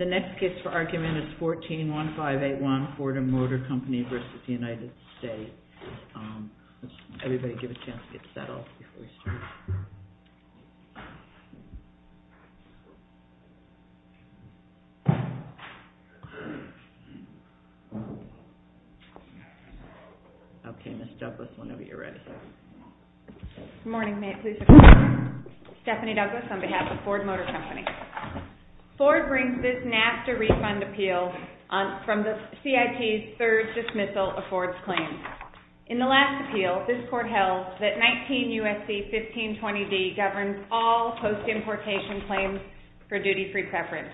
141581 Fordham Motor Company v. United States Fordham Motor Company v. United States Ford brings this NAFTA refund appeal from the CIT's third dismissal of Ford's claims. In the last appeal, this Court held that 19 U.S.C. 1520d governs all post-importation claims for duty-free preference.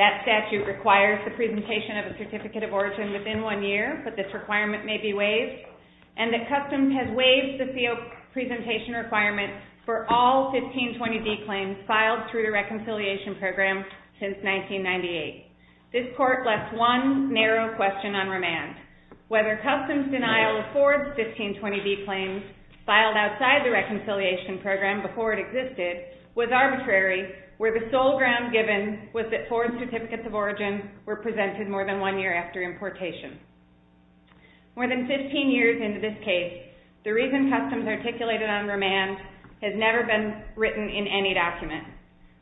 That statute requires the presentation of a certificate of origin within one year, but this requirement may be waived, and that Customs has waived the CO presentation requirement for all 1520d claims filed through the Reconciliation Program since 1998. This Court left one narrow question on remand. Whether Customs denial of Ford's 1520d claims filed outside the Reconciliation Program before it existed was arbitrary, where the sole ground given was that Ford's certificates of origin were presented more than one year after importation. More than 15 years into this case, the reason Customs articulated on remand has never been written in any document.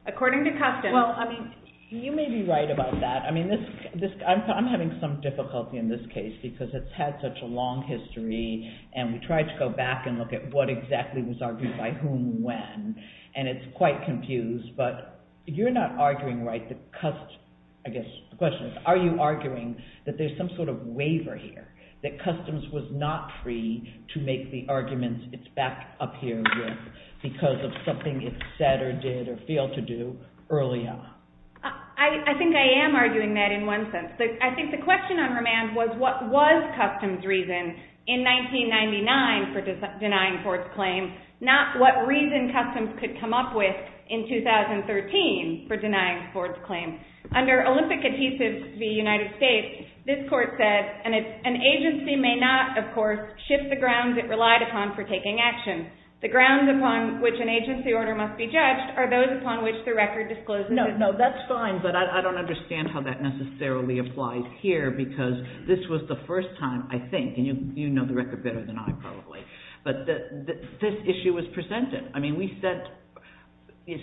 According to Customs... Well, I mean, you may be right about that. I mean, I'm having some difficulty in this case because it's had such a long history, and we tried to go back and look at what exactly was argued by whom when, and it's quite confused, but you're not arguing right that Customs... I guess the question is, are you arguing that there's some sort of waiver here, that Customs was not free to make the arguments it's backed up here with because of something it said or did or failed to do early on? I think I am arguing that in one sense. I think the question on remand was, what was reason Customs could come up with in 2013 for denying Ford's claim? Under Olympic adhesives v. United States, this Court said, and an agency may not, of course, shift the grounds it relied upon for taking action. The grounds upon which an agency order must be judged are those upon which the record discloses... No, no, that's fine, but I don't understand how that necessarily applies here because this was the first time, I think, and you know the record better than I probably, but this issue was presented. I mean, we said...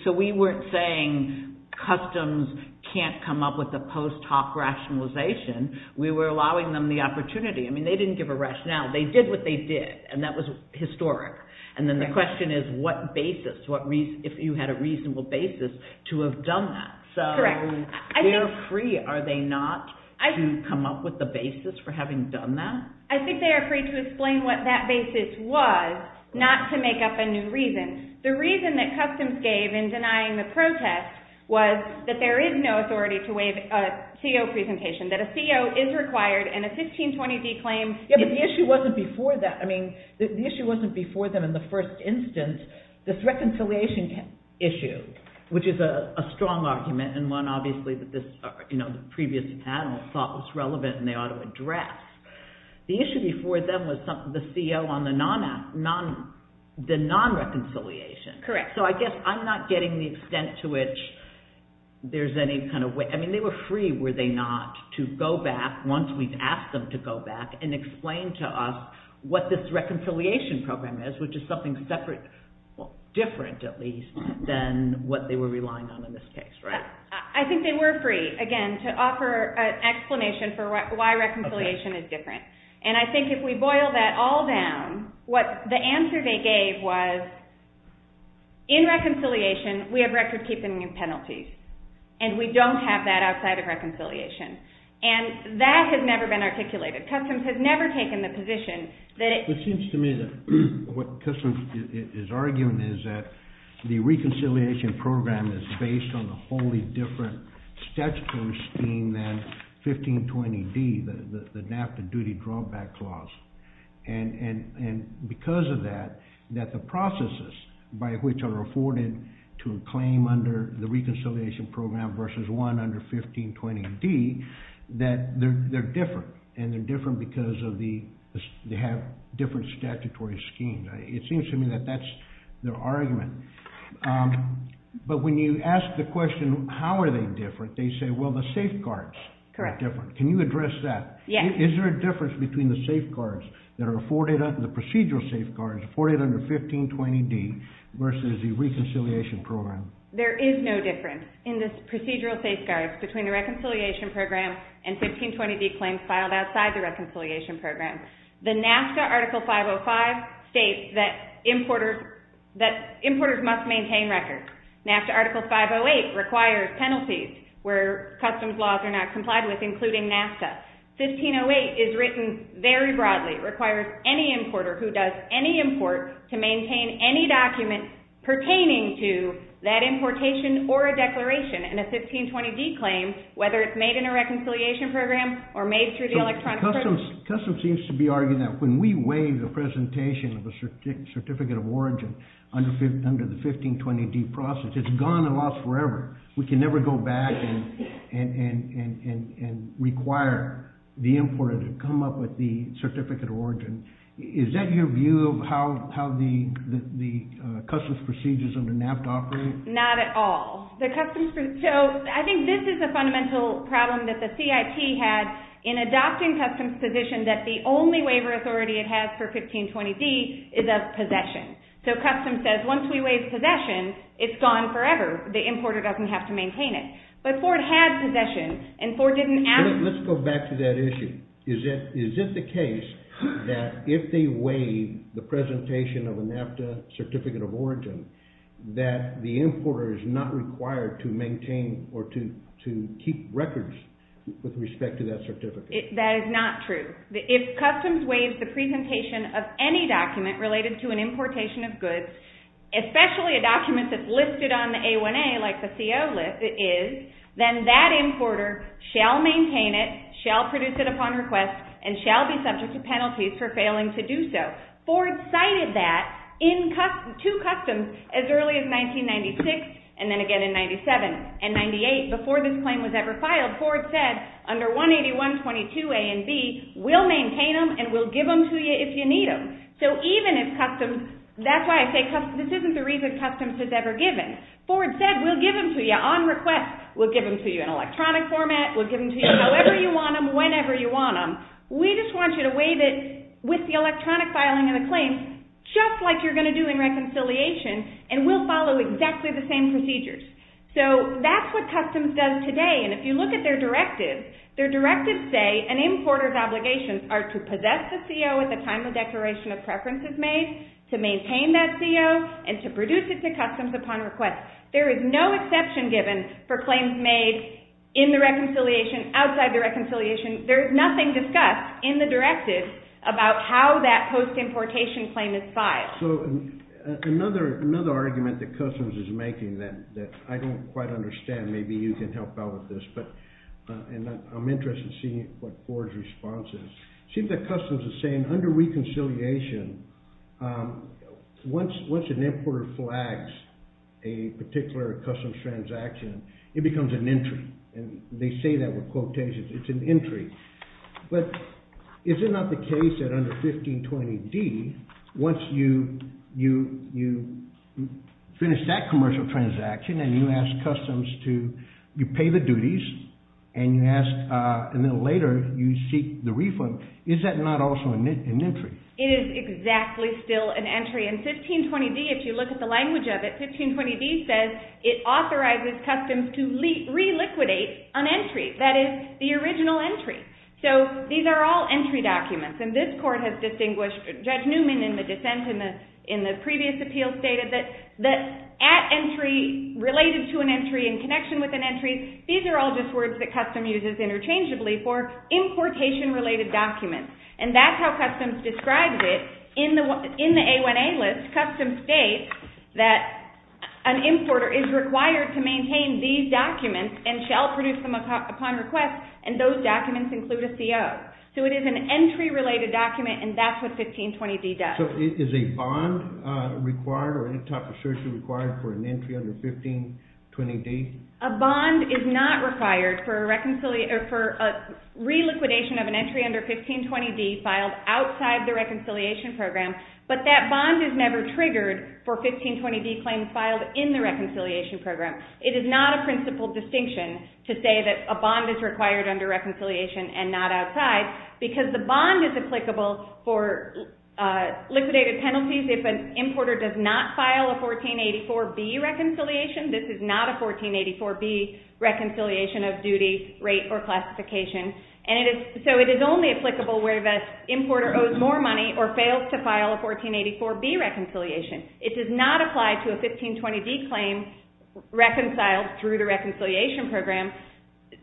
So we weren't saying Customs can't come up with a post hoc rationalization. We were allowing them the opportunity. I mean, they didn't give a rationale. They did what they did, and that was historic, and then the question is what basis, if you had a reasonable basis to have done that. Correct. They're free, are they not, to come up with a basis for having done that? I think they are free to explain what that basis was, not to make up a new reason. The reason that Customs gave in denying the protest was that there is no authority to waive a CO presentation, that a CO is required and a 1520D claim... Yeah, but the issue wasn't before that. I mean, the issue wasn't before them in the previous panel thought was relevant and they ought to address. The issue before them was the CO on the non-reconciliation. Correct. So I guess I'm not getting the extent to which there's any kind of way... I mean, they were free, were they not, to go back, once we've asked them to go back, and explain to us what this reconciliation program is, which is something separate, different at least, than what they were relying on in this case, right? I think they were free, again, to offer an explanation for why reconciliation is different. And I think if we boil that all down, what the answer they gave was, in reconciliation we have record-keeping penalties, and we don't have that outside of reconciliation. And that has never been articulated. Customs has never taken the position that it... It seems to me that what Customs is arguing is that the reconciliation program is based on a wholly different statutory scheme than 1520D, the NAFTA duty drawback clause. And because of that, that the processes by which are afforded to a claim under the reconciliation program versus one under 1520D, that they're different. And they're different because they have different statutory schemes. It seems to me that that's their argument. But when you ask the question, how are they different? They say, well, the safeguards are different. Can you address that? Is there a difference between the safeguards that are afforded, the procedural safeguards afforded under 1520D versus the reconciliation program? There is no difference in the procedural safeguards between the reconciliation program and 1520D claims filed outside the reconciliation program. The NAFTA Article 505 states that importers must maintain records. NAFTA Article 508 requires penalties where customs laws are not complied with, including NAFTA. 1508 is written very broadly, requires any importer who does any import to maintain any document pertaining to that importation or a declaration in a 1520D claim, whether it's made in a reconciliation program or made through the electronic... Customs seems to be arguing that when we waive the presentation of a certificate of origin under the 1520D process, it's gone and lost forever. We can never go back and require the importer to come up with the certificate of origin. Is that your view of how the customs procedures under NAFTA operate? Not at all. I think this is a fundamental problem that the CIT had in adopting customs position that the only waiver authority it has for 1520D is of possession. Customs says once we waive possession, it's gone forever. The importer doesn't have to maintain it. But Ford had possession and Ford didn't ask... Let's go back to that issue. Is it the case that if they waive the presentation of a NAFTA certificate of origin that the importer is not required to maintain or to keep records with respect to that certificate? That is not true. If customs waives the presentation of any document related to an importation of goods, especially a document that's listed on the A1A like the CO is, then that importer shall maintain it, shall produce it upon request, and shall be subject to customs as early as 1996 and then again in 97 and 98. Before this claim was ever filed, Ford said under 181.22 A and B, we'll maintain them and we'll give them to you if you need them. So even if customs... That's why I say this isn't the reason customs has ever given. Ford said, we'll give them to you on request. We'll give them to you in electronic format. We'll give them to you however you want them, whenever you want them. We just want you to just like you're going to do in reconciliation and we'll follow exactly the same procedures. So that's what customs does today and if you look at their directive, their directive say an importer's obligations are to possess the CO at the time the declaration of preference is made, to maintain that CO, and to produce it to customs upon request. There is no exception given for claims made in the reconciliation, outside the reconciliation. There is nothing discussed in the directive about how that post-importation claim is filed. So another argument that customs is making that I don't quite understand, maybe you can help out with this, but I'm interested in seeing what Ford's response is. It seems that customs is saying under reconciliation, once an importer flags a particular customs transaction, it becomes an entry and they say that with quotations, it's an entry. But is it not the case that under 1520D, once you finish that commercial transaction and you ask customs to, you pay the duties and you ask, and then later you seek the refund, is that not also an entry? It is exactly still an entry and 1520D, if you look at the language of it, 1520D says that it authorizes customs to re-liquidate an entry, that is the original entry. So these are all entry documents and this court has distinguished, Judge Newman in the dissent in the previous appeal stated that at entry, related to an entry, in connection with an entry, these are all just words that customs uses interchangeably for importation related documents. And that's how customs describes it in the A1A list, customs states that an importer is required to maintain these documents and shall produce them upon request and those documents include a CO. So it is an entry related document and that's what 1520D does. So is a bond required or any type of surcharge required for an entry under 1520D? A bond is not required for a re-liquidation of an entry under 1520D filed outside the reconciliation program. It is not a principle distinction to say that a bond is required under reconciliation and not outside because the bond is applicable for liquidated penalties if an importer does not file a 1484B reconciliation. This is not a 1484B reconciliation of duty, rate, or classification. So it is only applicable where the importer owes more money or fails to file a 1484B reconciliation. It does not apply to a 1520D claim reconciled through the reconciliation program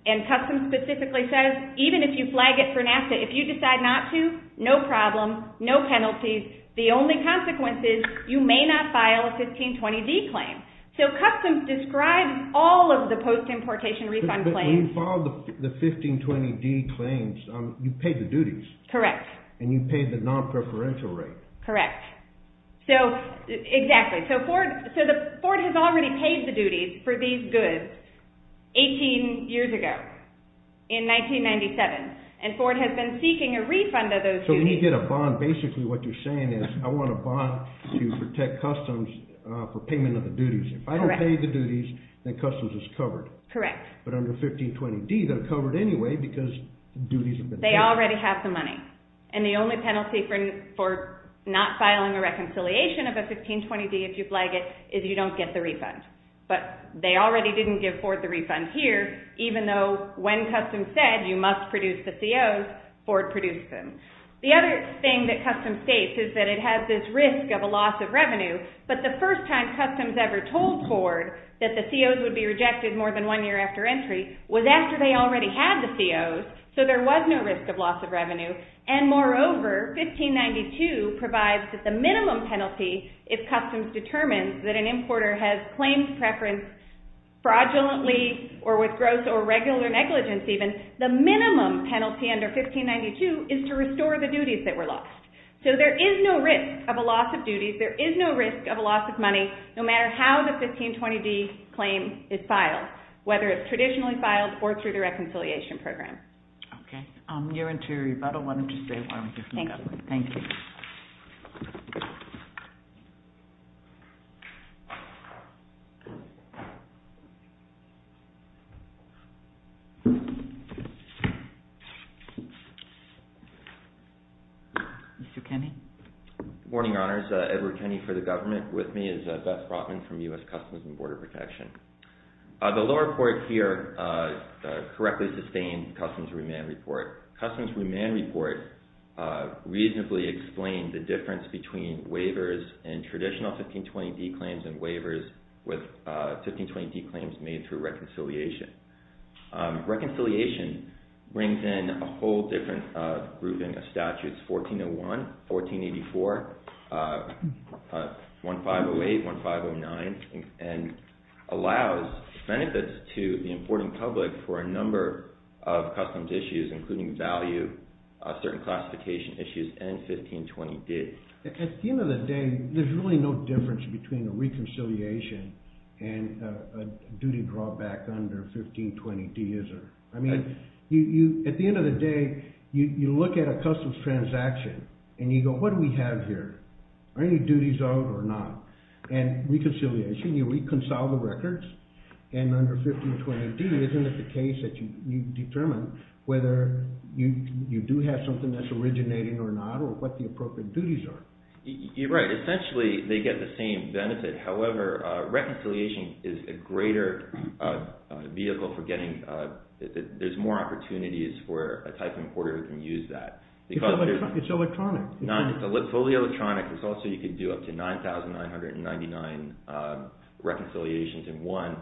and customs specifically says even if you flag it for NAFTA, if you decide not to, no problem, no penalties, the only consequence is you may not file a 1520D claim. So customs describes all of the post-importation refund claims. But when you filed the 1520D claims, you paid the duties. Correct. And you paid the non-preferential rate. Correct. So exactly. So Ford has already paid the duties for these goods 18 years ago in 1997 and Ford has been seeking a refund of those duties. So when you get a bond, basically what you're saying is I want a bond to protect customs for payment of the duties. If I don't pay the duties, then customs is covered. Correct. But under 1520D, they're covered anyway because duties have been paid. They already have the money. And the only penalty for not filing a reconciliation of a 1520D if you flag it is you don't get the refund. But they already didn't give Ford the refund here even though when customs said you must produce the COs, Ford produced them. The other thing that customs states is that it has this risk of a loss of revenue. But the first time customs ever told Ford that the COs would be rejected more than one year after entry was after they already had the COs. So there was no risk of loss of revenue. And moreover, 1592 provides that the minimum penalty if customs determines that an importer has claimed preference fraudulently or with gross or regular negligence even, the minimum penalty under 1592 is to restore the duties that were lost. So there is no risk of a loss of duties. There is no risk of a loss of money no matter how the 1520D claim is filed, whether it's traditionally filed or through the reconciliation program. Okay. You're into rebuttal. Why don't you stay while we hear from the government. Thank you. Mr. Kenney? Good morning, honors. Edward Kenney for the government. With me is Beth Brotman from U.S. Customs and Border Protection. The lower court here correctly sustained customs remand report. Customs remand report reasonably explained the difference between waivers and traditional 1520D claims and waivers with 1520D claims made through reconciliation. Reconciliation brings in a whole different grouping of statutes, 1401, 1484, 1508, 1509, and allows benefits to the importing public for a number of customs issues, including value, certain classification issues, and 1520D. At the end of the day, there's really no difference between a reconciliation and a duty drawback under 1520D, is there? At the end of the day, you look at a customs transaction and you go, what do we have here? Are any duties owed or not? And reconciliation, you reconcile the records, and under 1520D, isn't it the case that you determine whether you do have something that's originating or not or what the appropriate duties are? You're right. Essentially, they get the same benefit. However, reconciliation is a greater vehicle for getting – there's more opportunities for a type of importer who can use that. It's electronic. It's fully electronic. Also, you can do up to 9,999 reconciliations in one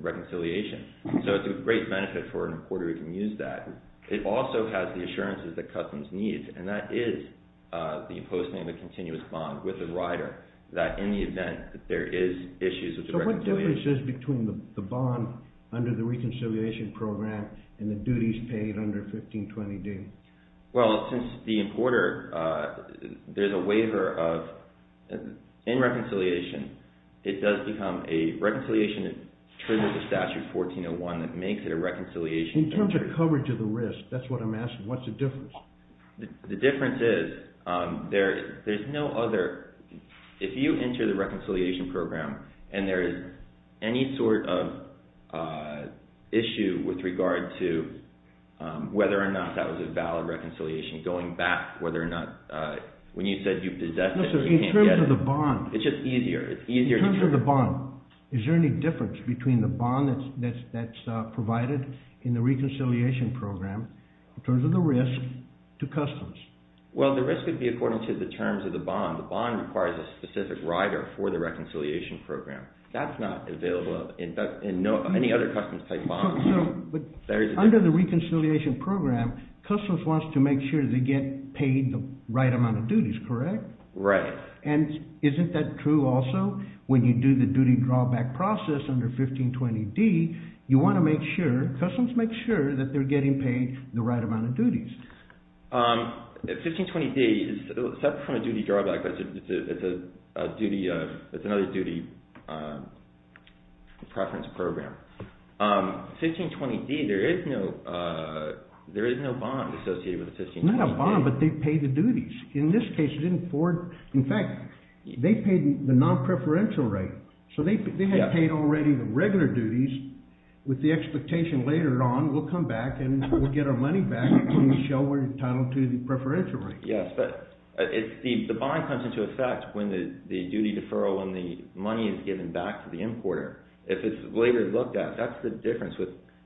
reconciliation. So it's a great benefit for an importer who can use that. It also has the assurances that customs needs, and that is the imposing of a continuous bond with the rider, that in the event that there is issues with the reconciliation – So what difference is between the bond under the reconciliation program and the duties paid under 1520D? Well, since the importer – there's a waiver of – in reconciliation, it does become a – reconciliation, it triggers a statute, 1401, that makes it a reconciliation. In terms of coverage of the risk, that's what I'm asking. What's the difference? The difference is there's no other – if you enter the reconciliation program and there is any sort of issue with regard to whether or not that was a valid reconciliation, going back, whether or not – when you said you possess it, you can't get it. In terms of the bond. It's just easier. It's easier to – In terms of the bond, is there any difference between the bond that's provided in the reconciliation program in terms of the risk to customs? Well, the risk would be according to the terms of the bond. The bond requires a specific rider for the reconciliation program. That's not available in any other customs-type bond. But under the reconciliation program, customs wants to make sure they get paid the right amount of duties, correct? Right. And isn't that true also? When you do the duty drawback process under 1520D, you want to make sure – customs makes sure that they're getting paid the right amount of duties. 1520D is separate from the duty drawback, but it's another duty preference program. 1520D, there is no bond associated with 1520D. Not a bond, but they pay the duties. In this case, it didn't afford – in fact, they paid the non-preferential rate. So they had paid already the regular duties. With the expectation later on, we'll come back and we'll get our money back and show we're entitled to the preferential rate. Yes, but the bond comes into effect when the duty deferral, when the money is given back to the importer. If it's later looked at, that's the difference.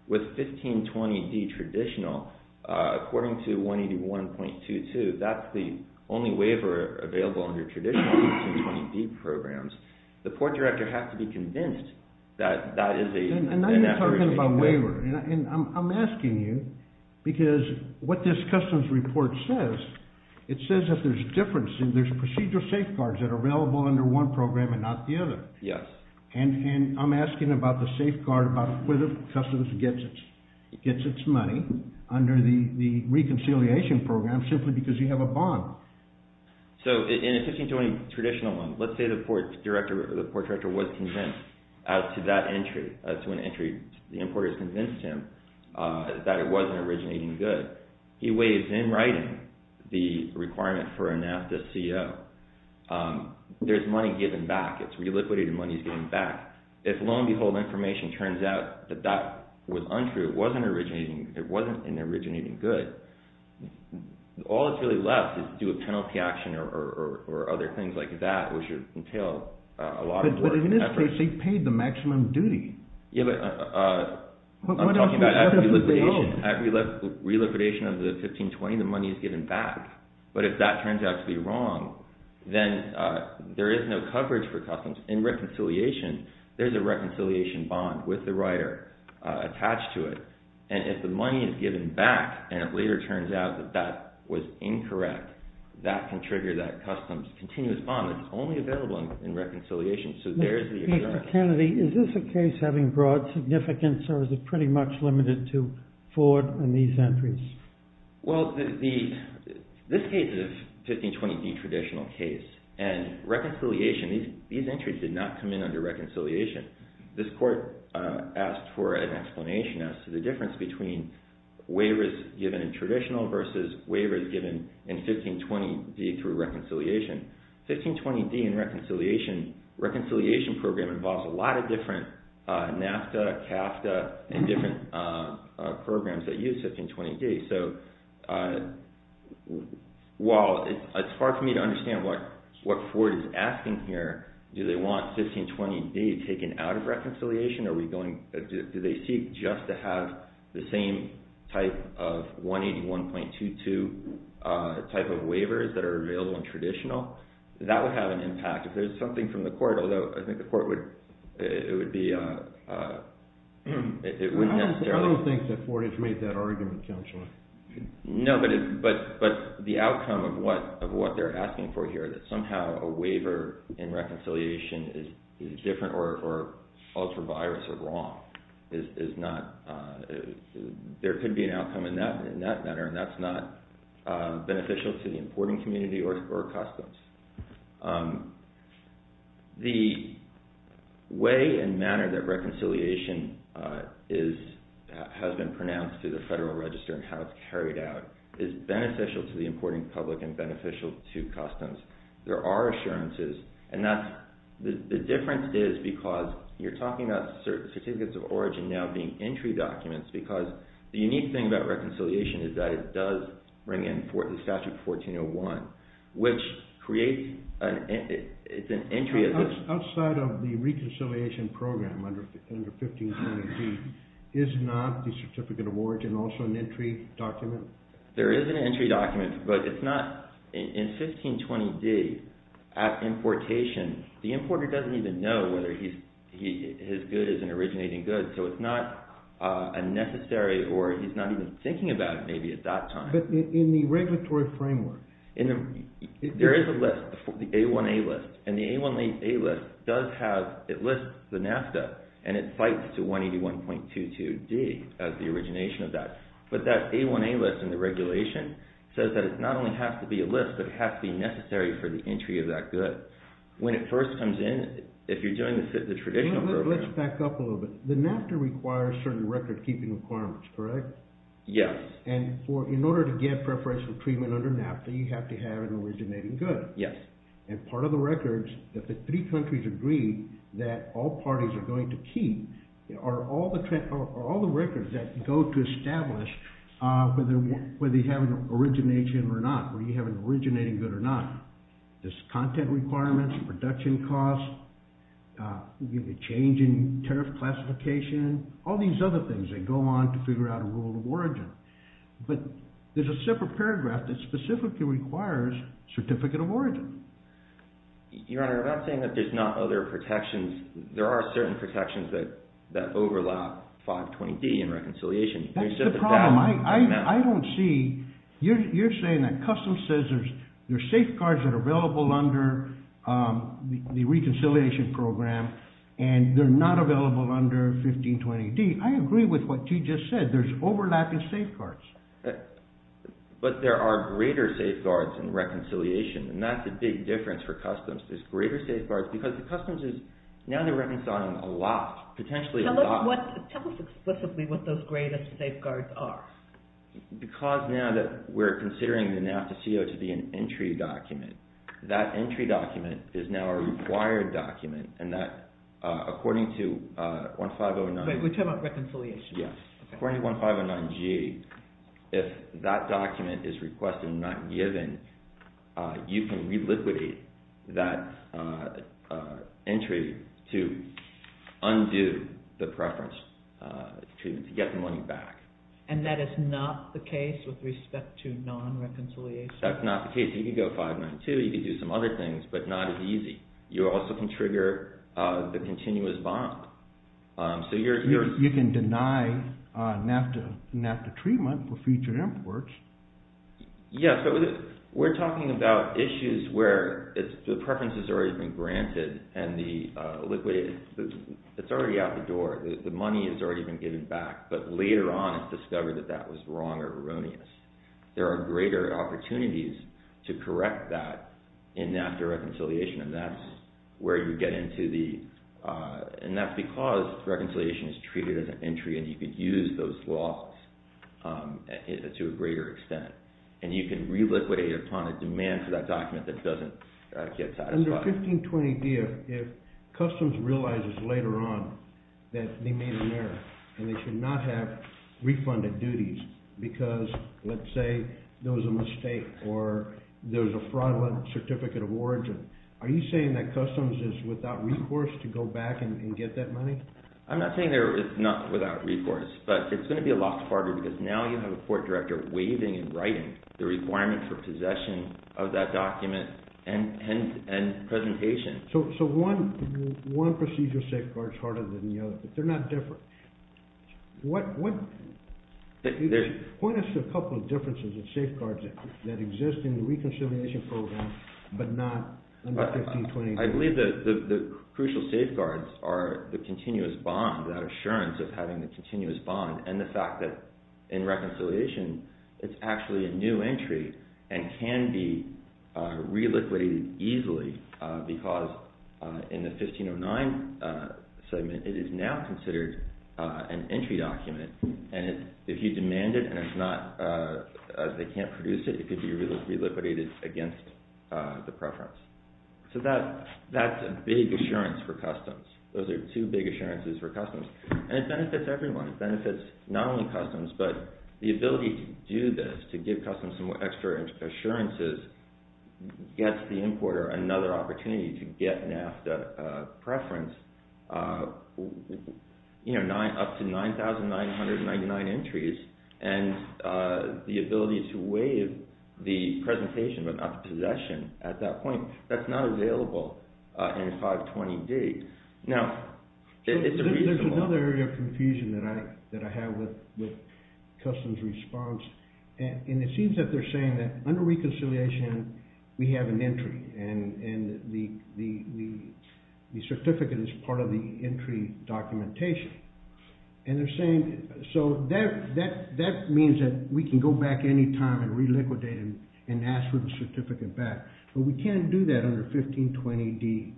With 1520D traditional, according to 181.22, that's the only waiver available under traditional 1520D programs. The port director has to be convinced that that is a – And now you're talking about waiver. And I'm asking you because what this customs report says, it says that there's a difference and there's procedural safeguards that are available under one program and not the other. Yes. And I'm asking about the safeguard about where the customs gets its money under the reconciliation program simply because you have a bond. So in a 1520 traditional one, let's say the port director was convinced as to that entry, as to an entry the importer has convinced him that it was an originating good. He weighs in writing the requirement for a NAFTA CO. There's money given back. It's reliquited and money is given back. If lo and behold, information turns out that that was untrue, it wasn't an originating good, all that's really left is to do a penalty action or other things like that which entails a lot of work and effort. But in this case, they paid the maximum duty. Yeah, but I'm talking about at reliquidation of the 1520, the money is given back. But if that turns out to be wrong, then there is no coverage for customs. In reconciliation, there's a reconciliation bond with the writer attached to it. And if the money is given back and it later turns out that that was incorrect, that can trigger that customs continuous bond. It's only available in reconciliation. So there's the exception. Peter Kennedy, is this a case having broad significance or is it pretty much limited to Ford and these entries? Well, this case is a 1520 D traditional case. And reconciliation, these entries did not come in under reconciliation. This court asked for an explanation as to the difference between waivers given in traditional versus waivers given in 1520 D through reconciliation. 1520 D in reconciliation program involves a lot of different NAFTA, CAFTA, and different programs that use 1520 D. So while it's hard for me to understand what Ford is asking here, do they want 1520 D taken out of reconciliation? Do they seek just to have the same type of 181.22 type of waivers that are available in traditional? That would have an impact. If there's something from the court, although I think the court would be if it were necessary. I don't think that Ford has made that argument, Counselor. No, but the outcome of what they're asking for here, that somehow a waiver in reconciliation is different or ultra-virus or wrong is not – there could be an outcome in that manner, and that's not beneficial to the importing community or customs. The way and manner that reconciliation has been pronounced through the Federal Register and how it's carried out is beneficial to the importing public and beneficial to customs. There are assurances, and the difference is because you're talking about certificates of origin now being entry documents because the unique thing about reconciliation is that it does bring in the Statute 1401, which creates an entry. Outside of the reconciliation program under 1520 D, is not the certificate of origin also an entry document? There is an entry document, but it's not in 1520 D at importation. The importer doesn't even know whether his good is an originating good, so it's not a necessary or he's not even thinking about it maybe at that time. But in the regulatory framework? There is a list, the A1A list, and the A1A list does have – as the origination of that. But that A1A list in the regulation says that it not only has to be a list, but it has to be necessary for the entry of that good. When it first comes in, if you're doing the traditional program – Let's back up a little bit. The NAFTA requires certain record-keeping requirements, correct? Yes. And in order to get preferential treatment under NAFTA, you have to have an originating good. Yes. And part of the records that the three countries agree that all parties are going to keep are all the records that go to establish whether you have an origination or not, whether you have an originating good or not. There's content requirements, production costs, change in tariff classification, all these other things that go on to figure out a rule of origin. But there's a separate paragraph that specifically requires certificate of origin. Your Honor, I'm not saying that there's not other protections. There are certain protections that overlap 520D in reconciliation. That's the problem. I don't see – you're saying that customs says there's safeguards that are available under the reconciliation program and they're not available under 1520D. I agree with what you just said. There's overlapping safeguards. But there are greater safeguards in reconciliation, and that's a big difference for customs. There's greater safeguards because the customs is now they're reconciling a lot, potentially a lot. Tell us explicitly what those greater safeguards are. Because now that we're considering the NAFTA CO to be an entry document, that entry document is now a required document, and that according to 1509G, if that document is requested and not given, you can reliquidate that entry to undo the preference to get the money back. And that is not the case with respect to non-reconciliation? That's not the case. You can go 592. You can do some other things, but not as easy. You also can trigger the continuous bond. You can deny NAFTA treatment for future imports. Yes, but we're talking about issues where the preference has already been granted and it's already out the door. The money has already been given back. But later on it's discovered that that was wrong or erroneous. There are greater opportunities to correct that in NAFTA reconciliation, and that's because reconciliation is treated as an entry and you could use those laws to a greater extent. And you can reliquidate upon a demand for that document that doesn't get satisfied. Under 1520D, if Customs realizes later on that they made an error and they should not have refunded duties because, let's say, it's a document, are you saying that Customs is without recourse to go back and get that money? I'm not saying they're not without recourse, but it's going to be a lot harder because now you have a court director waiving in writing the requirement for possession of that document and presentation. So one procedure safeguard is harder than the other. They're not different. Point us to a couple of differences in safeguards that exist in the reconciliation program but not under 1520D. I believe the crucial safeguards are the continuous bond, that assurance of having a continuous bond, and the fact that in reconciliation it's actually a new entry and can be reliquidated easily because in the 1509 segment it is now considered an entry document. And if you demand it and they can't produce it, it could be reliquidated against the preference. So that's a big assurance for Customs. Those are two big assurances for Customs. And it benefits everyone. It benefits not only Customs but the ability to do this, to give Customs some extra assurances, gets the importer another opportunity to get NAFTA preference up to 9,999 entries, and the ability to waive the presentation but not the possession at that point, that's not available in 520D. Now, it's a reasonable option. There's another area of confusion that I have with Customs' response, and it seems that they're saying that under reconciliation we have an entry and the certificate is part of the entry documentation. And they're saying so that means that we can go back anytime and reliquidate and ask for the certificate back, but we can't do that under 1520D.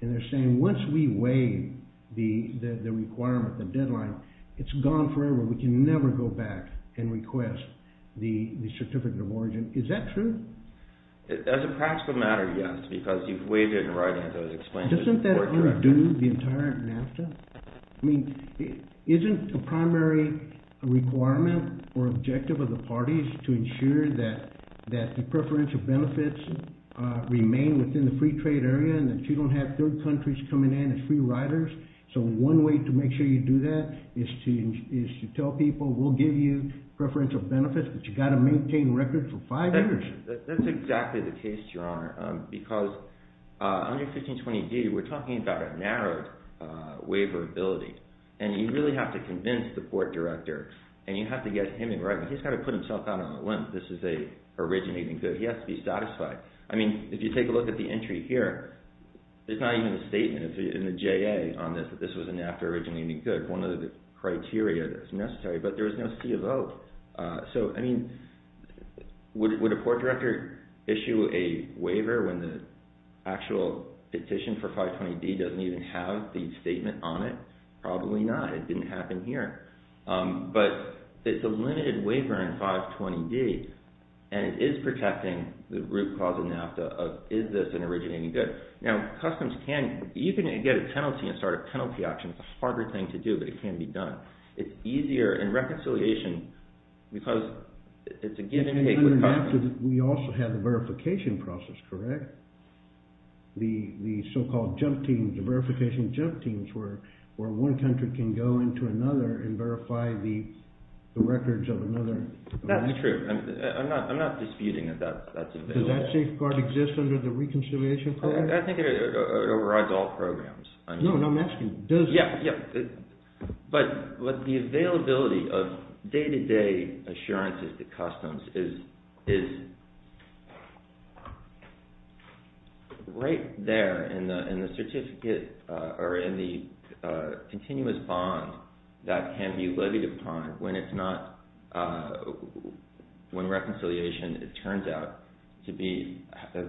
And they're saying once we waive the requirement, the deadline, it's gone forever. We can never go back and request the certificate of origin. Is that true? As a practical matter, yes, because you've waived it in writing as I was explaining. Doesn't that already do the entire NAFTA? I mean, isn't a primary requirement or objective of the parties to ensure that the preferential benefits remain within the free trade area and that you don't have third countries coming in as free riders? So one way to make sure you do that is to tell people, we'll give you preferential benefits, but you've got to maintain records for five years. That's exactly the case, Your Honor, because under 1520D we're talking about a narrow waiver ability and you really have to convince the port director and you have to get him in writing. He's got to put himself out on a limb. This is a originating good. He has to be satisfied. I mean, if you take a look at the entry here, there's not even a statement in the JA on this that this was a NAFTA originating good. One of the criteria that's necessary, but there's no C of O. So, I mean, would a port director issue a waiver when the actual petition for 520D doesn't even have the statement on it? Probably not. It didn't happen here. But it's a limited waiver in 520D and it is protecting the root cause of NAFTA of, is this an originating good? Now, customs can, you can get a penalty and start a penalty auction. It's a harder thing to do, but it can be done. It's easier in reconciliation because it's a give and take. We also have a verification process, correct? The so-called verification jump teams where one country can go into another and verify the records of another. That's true. I'm not disputing that that's available. Does that safeguard exist under the reconciliation program? I think it overrides all programs. No, no, I'm asking, does it? Yeah, yeah. But the availability of day-to-day assurances to customs is right there in the certificate or in the continuous bond that can be levied upon when it's not, when reconciliation, it turns out, has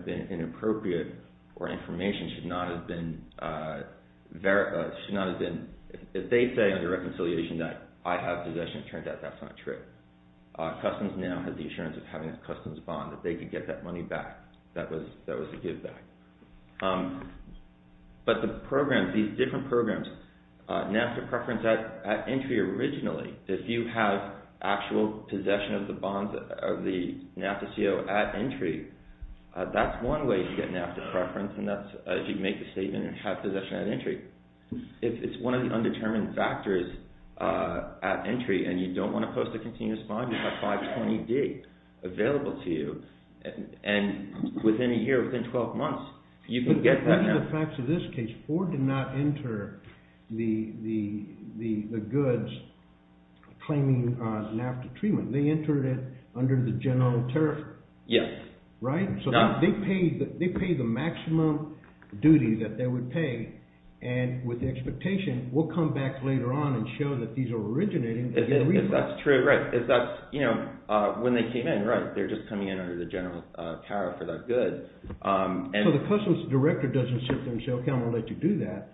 been inappropriate or information should not have been, if they say under reconciliation that I have possession, it turns out that's not true. Customs now has the assurance of having a customs bond that they could get that money back, that was a give back. But the programs, these different programs, NAFTA preference at entry originally, if you have actual possession of the bonds, of the NAFTA CO at entry, that's one way to get NAFTA preference and that's if you make a statement and have possession at entry. If it's one of the undetermined factors at entry and you don't want to post a continuous bond, you have 520-D available to you and within a year, within 12 months, you can get that now. In the facts of this case, Ford did not enter the goods claiming NAFTA treatment. They entered it under the general tariff. Yes. Right? So they paid the maximum duty that they would pay and with the expectation, we'll come back later on and show that these are originating. If that's true, right. If that's, you know, when they came in, right, they're just coming in under the general tariff for that good. So the customs director doesn't sit there and say, okay, I'm going to let you do that.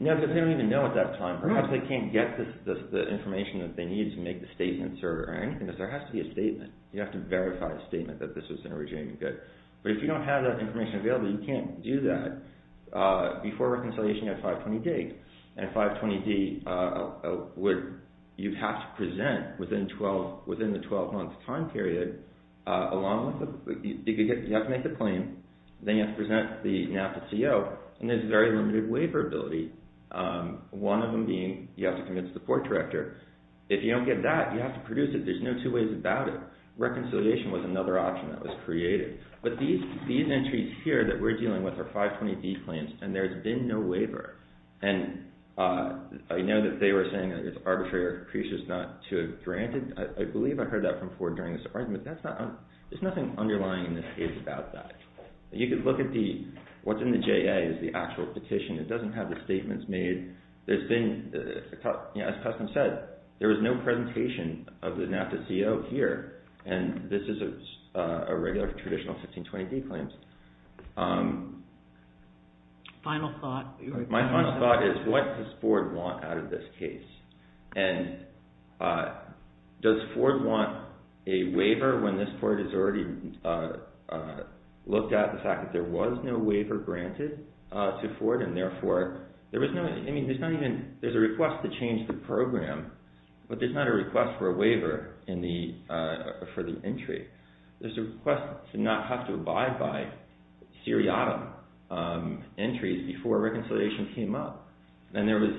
No, because they don't even know at that time. Perhaps they can't get the information that they need to make the statements or anything because there has to be a statement. You have to verify the statement that this is an originating good. But if you don't have that information available, you can't do that. Before reconciliation, you have 520-D and 520-D, you have to present within the 12-month time period along with, you have to make the claim, then you have to present the NAFTA CO and there's very limited waiver ability. One of them being, you have to convince the court director. If you don't get that, you have to produce it. There's no two ways about it. Reconciliation was another option that was created. But these entries here that we're dealing with are 520-D claims and there's been no waiver. And I know that they were saying that it's arbitrary or precious not to have granted. I believe I heard that from Ford during this argument. But there's nothing underlying in this case about that. You can look at the, what's in the JA is the actual petition. It doesn't have the statements made. There's been, as Customs said, there was no presentation of the NAFTA CO here. And this is a regular traditional 1520-D claim. Final thought. My final thought is what does Ford want out of this case? And does Ford want a waiver when this court has already looked at the fact that there was no waiver granted to Ford and therefore there was no, I mean, there's not even, there's a request to change the program, but there's not a request for a waiver for the entry. There's a request to not have to abide by seriatim entries before reconciliation came up. And there was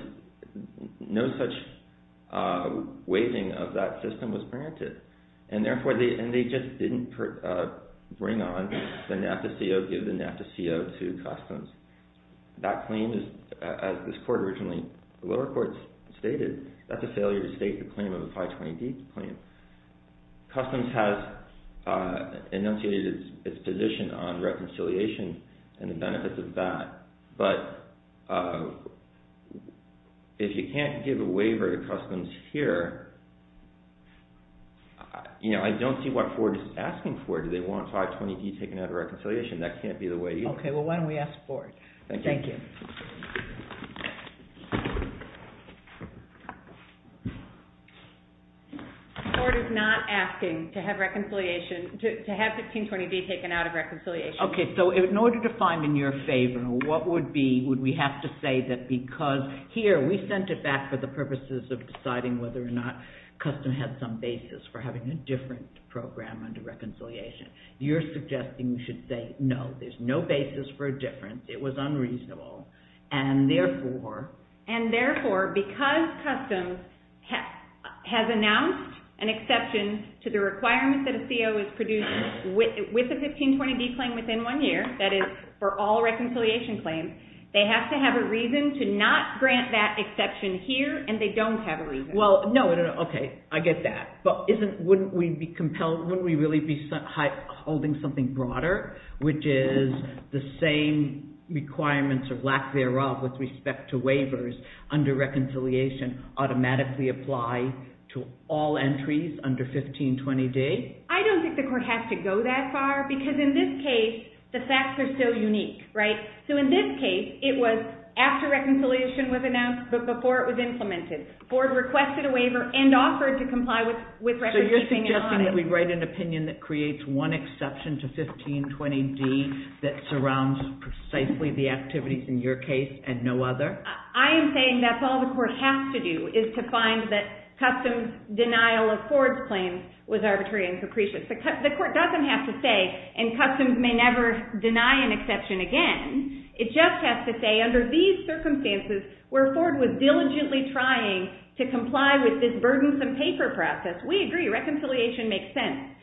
no such waiving of that system was granted. And therefore they just didn't bring on the NAFTA CO, give the NAFTA CO to Customs. That claim is, as this court originally, the lower courts stated, that's a failure to state the claim of a 1520-D claim. Customs has enunciated its position on reconciliation and the benefits of that. But if you can't give a waiver to Customs here, you know, I don't see what Ford is asking for. Do they want 520-D taken out of reconciliation? That can't be the way. Okay, well why don't we ask Ford. Thank you. Ford is not asking to have reconciliation, to have 1520-D taken out of reconciliation. Okay, so in order to find in your favor, what would be, would we have to say that because here, we sent it back for the purposes of deciding whether or not Customs had some basis for having a different program under reconciliation. You're suggesting we should say no, there's no basis for a difference, it was unreasonable, and therefore. And therefore, because Customs has announced an exception to the requirement that a CO is produced with a 1520-D claim within one year, that is for all reconciliation claims, they have to have a reason to not grant that exception here, and they don't have a reason. Well, no, okay, I get that. But wouldn't we be compelled, wouldn't we really be holding something broader, which is the same requirements of lack thereof with respect to waivers under reconciliation automatically apply to all entries under 1520-D? I don't think the Court has to go that far, because in this case, the facts are so unique, right? So in this case, it was after reconciliation was announced, but before it was implemented. Ford requested a waiver and offered to comply with recordkeeping and audits. So you're suggesting we write an opinion that creates one exception to 1520-D that surrounds precisely the activities in your case and no other? I am saying that's all the Court has to do, is to find that Customs' denial of Ford's claims was arbitrary and capricious. The Court doesn't have to say, and Customs may never deny an exception again. It just has to say, under these circumstances, where Ford was diligently trying to comply with this burdensome paper process, we agree, reconciliation makes sense.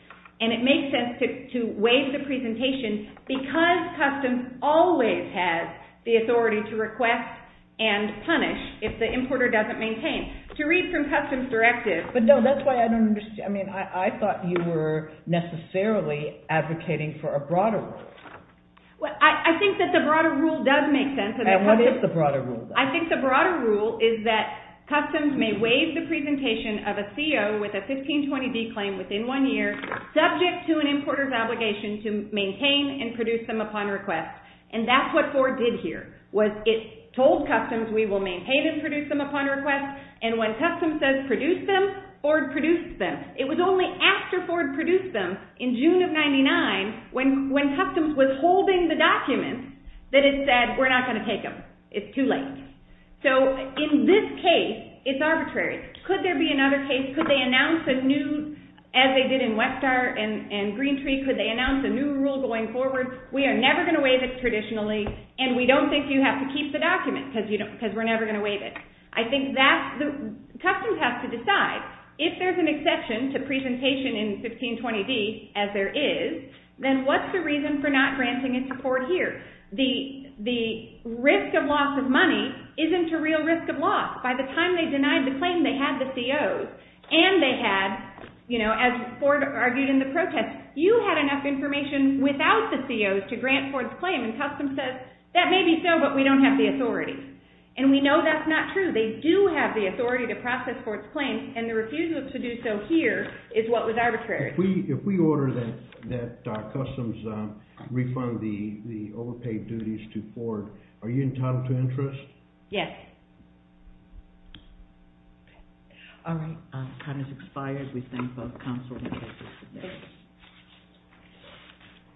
And it makes sense to waive the presentation because Customs always has the authority to request and punish To read from Customs' directive. But no, that's why I don't understand. I mean, I thought you were necessarily advocating for a broader rule. Well, I think that the broader rule does make sense. And what is the broader rule? I think the broader rule is that Customs may waive the presentation of a CO with a 1520-D claim within one year, subject to an importer's obligation to maintain and produce them upon request. And that's what Ford did here, was it told Customs we will maintain and produce them upon request, and when Customs says produce them, Ford produced them. It was only after Ford produced them in June of 1999, when Customs was holding the document, that it said we're not going to take them. It's too late. So in this case, it's arbitrary. Could there be another case? Could they announce a new, as they did in Westar and Green Tree, could they announce a new rule going forward? We are never going to waive it traditionally, and we don't think you have to keep the document because we're never going to waive it. I think Customs has to decide, if there's an exception to presentation in 1520-D, as there is, then what's the reason for not granting it to Ford here? The risk of loss of money isn't a real risk of loss. By the time they denied the claim, they had the COs, and they had, as Ford argued in the protest, you had enough information without the COs to grant Ford's claim, and Customs says that may be so, but we don't have the authority. And we know that's not true. They do have the authority to process Ford's claim, and the refusal to do so here is what was arbitrary. If we order that Customs refund the overpaid duties to Ford, are you entitled to interest? Yes. All right. Time has expired. We thank both counsel and witnesses today.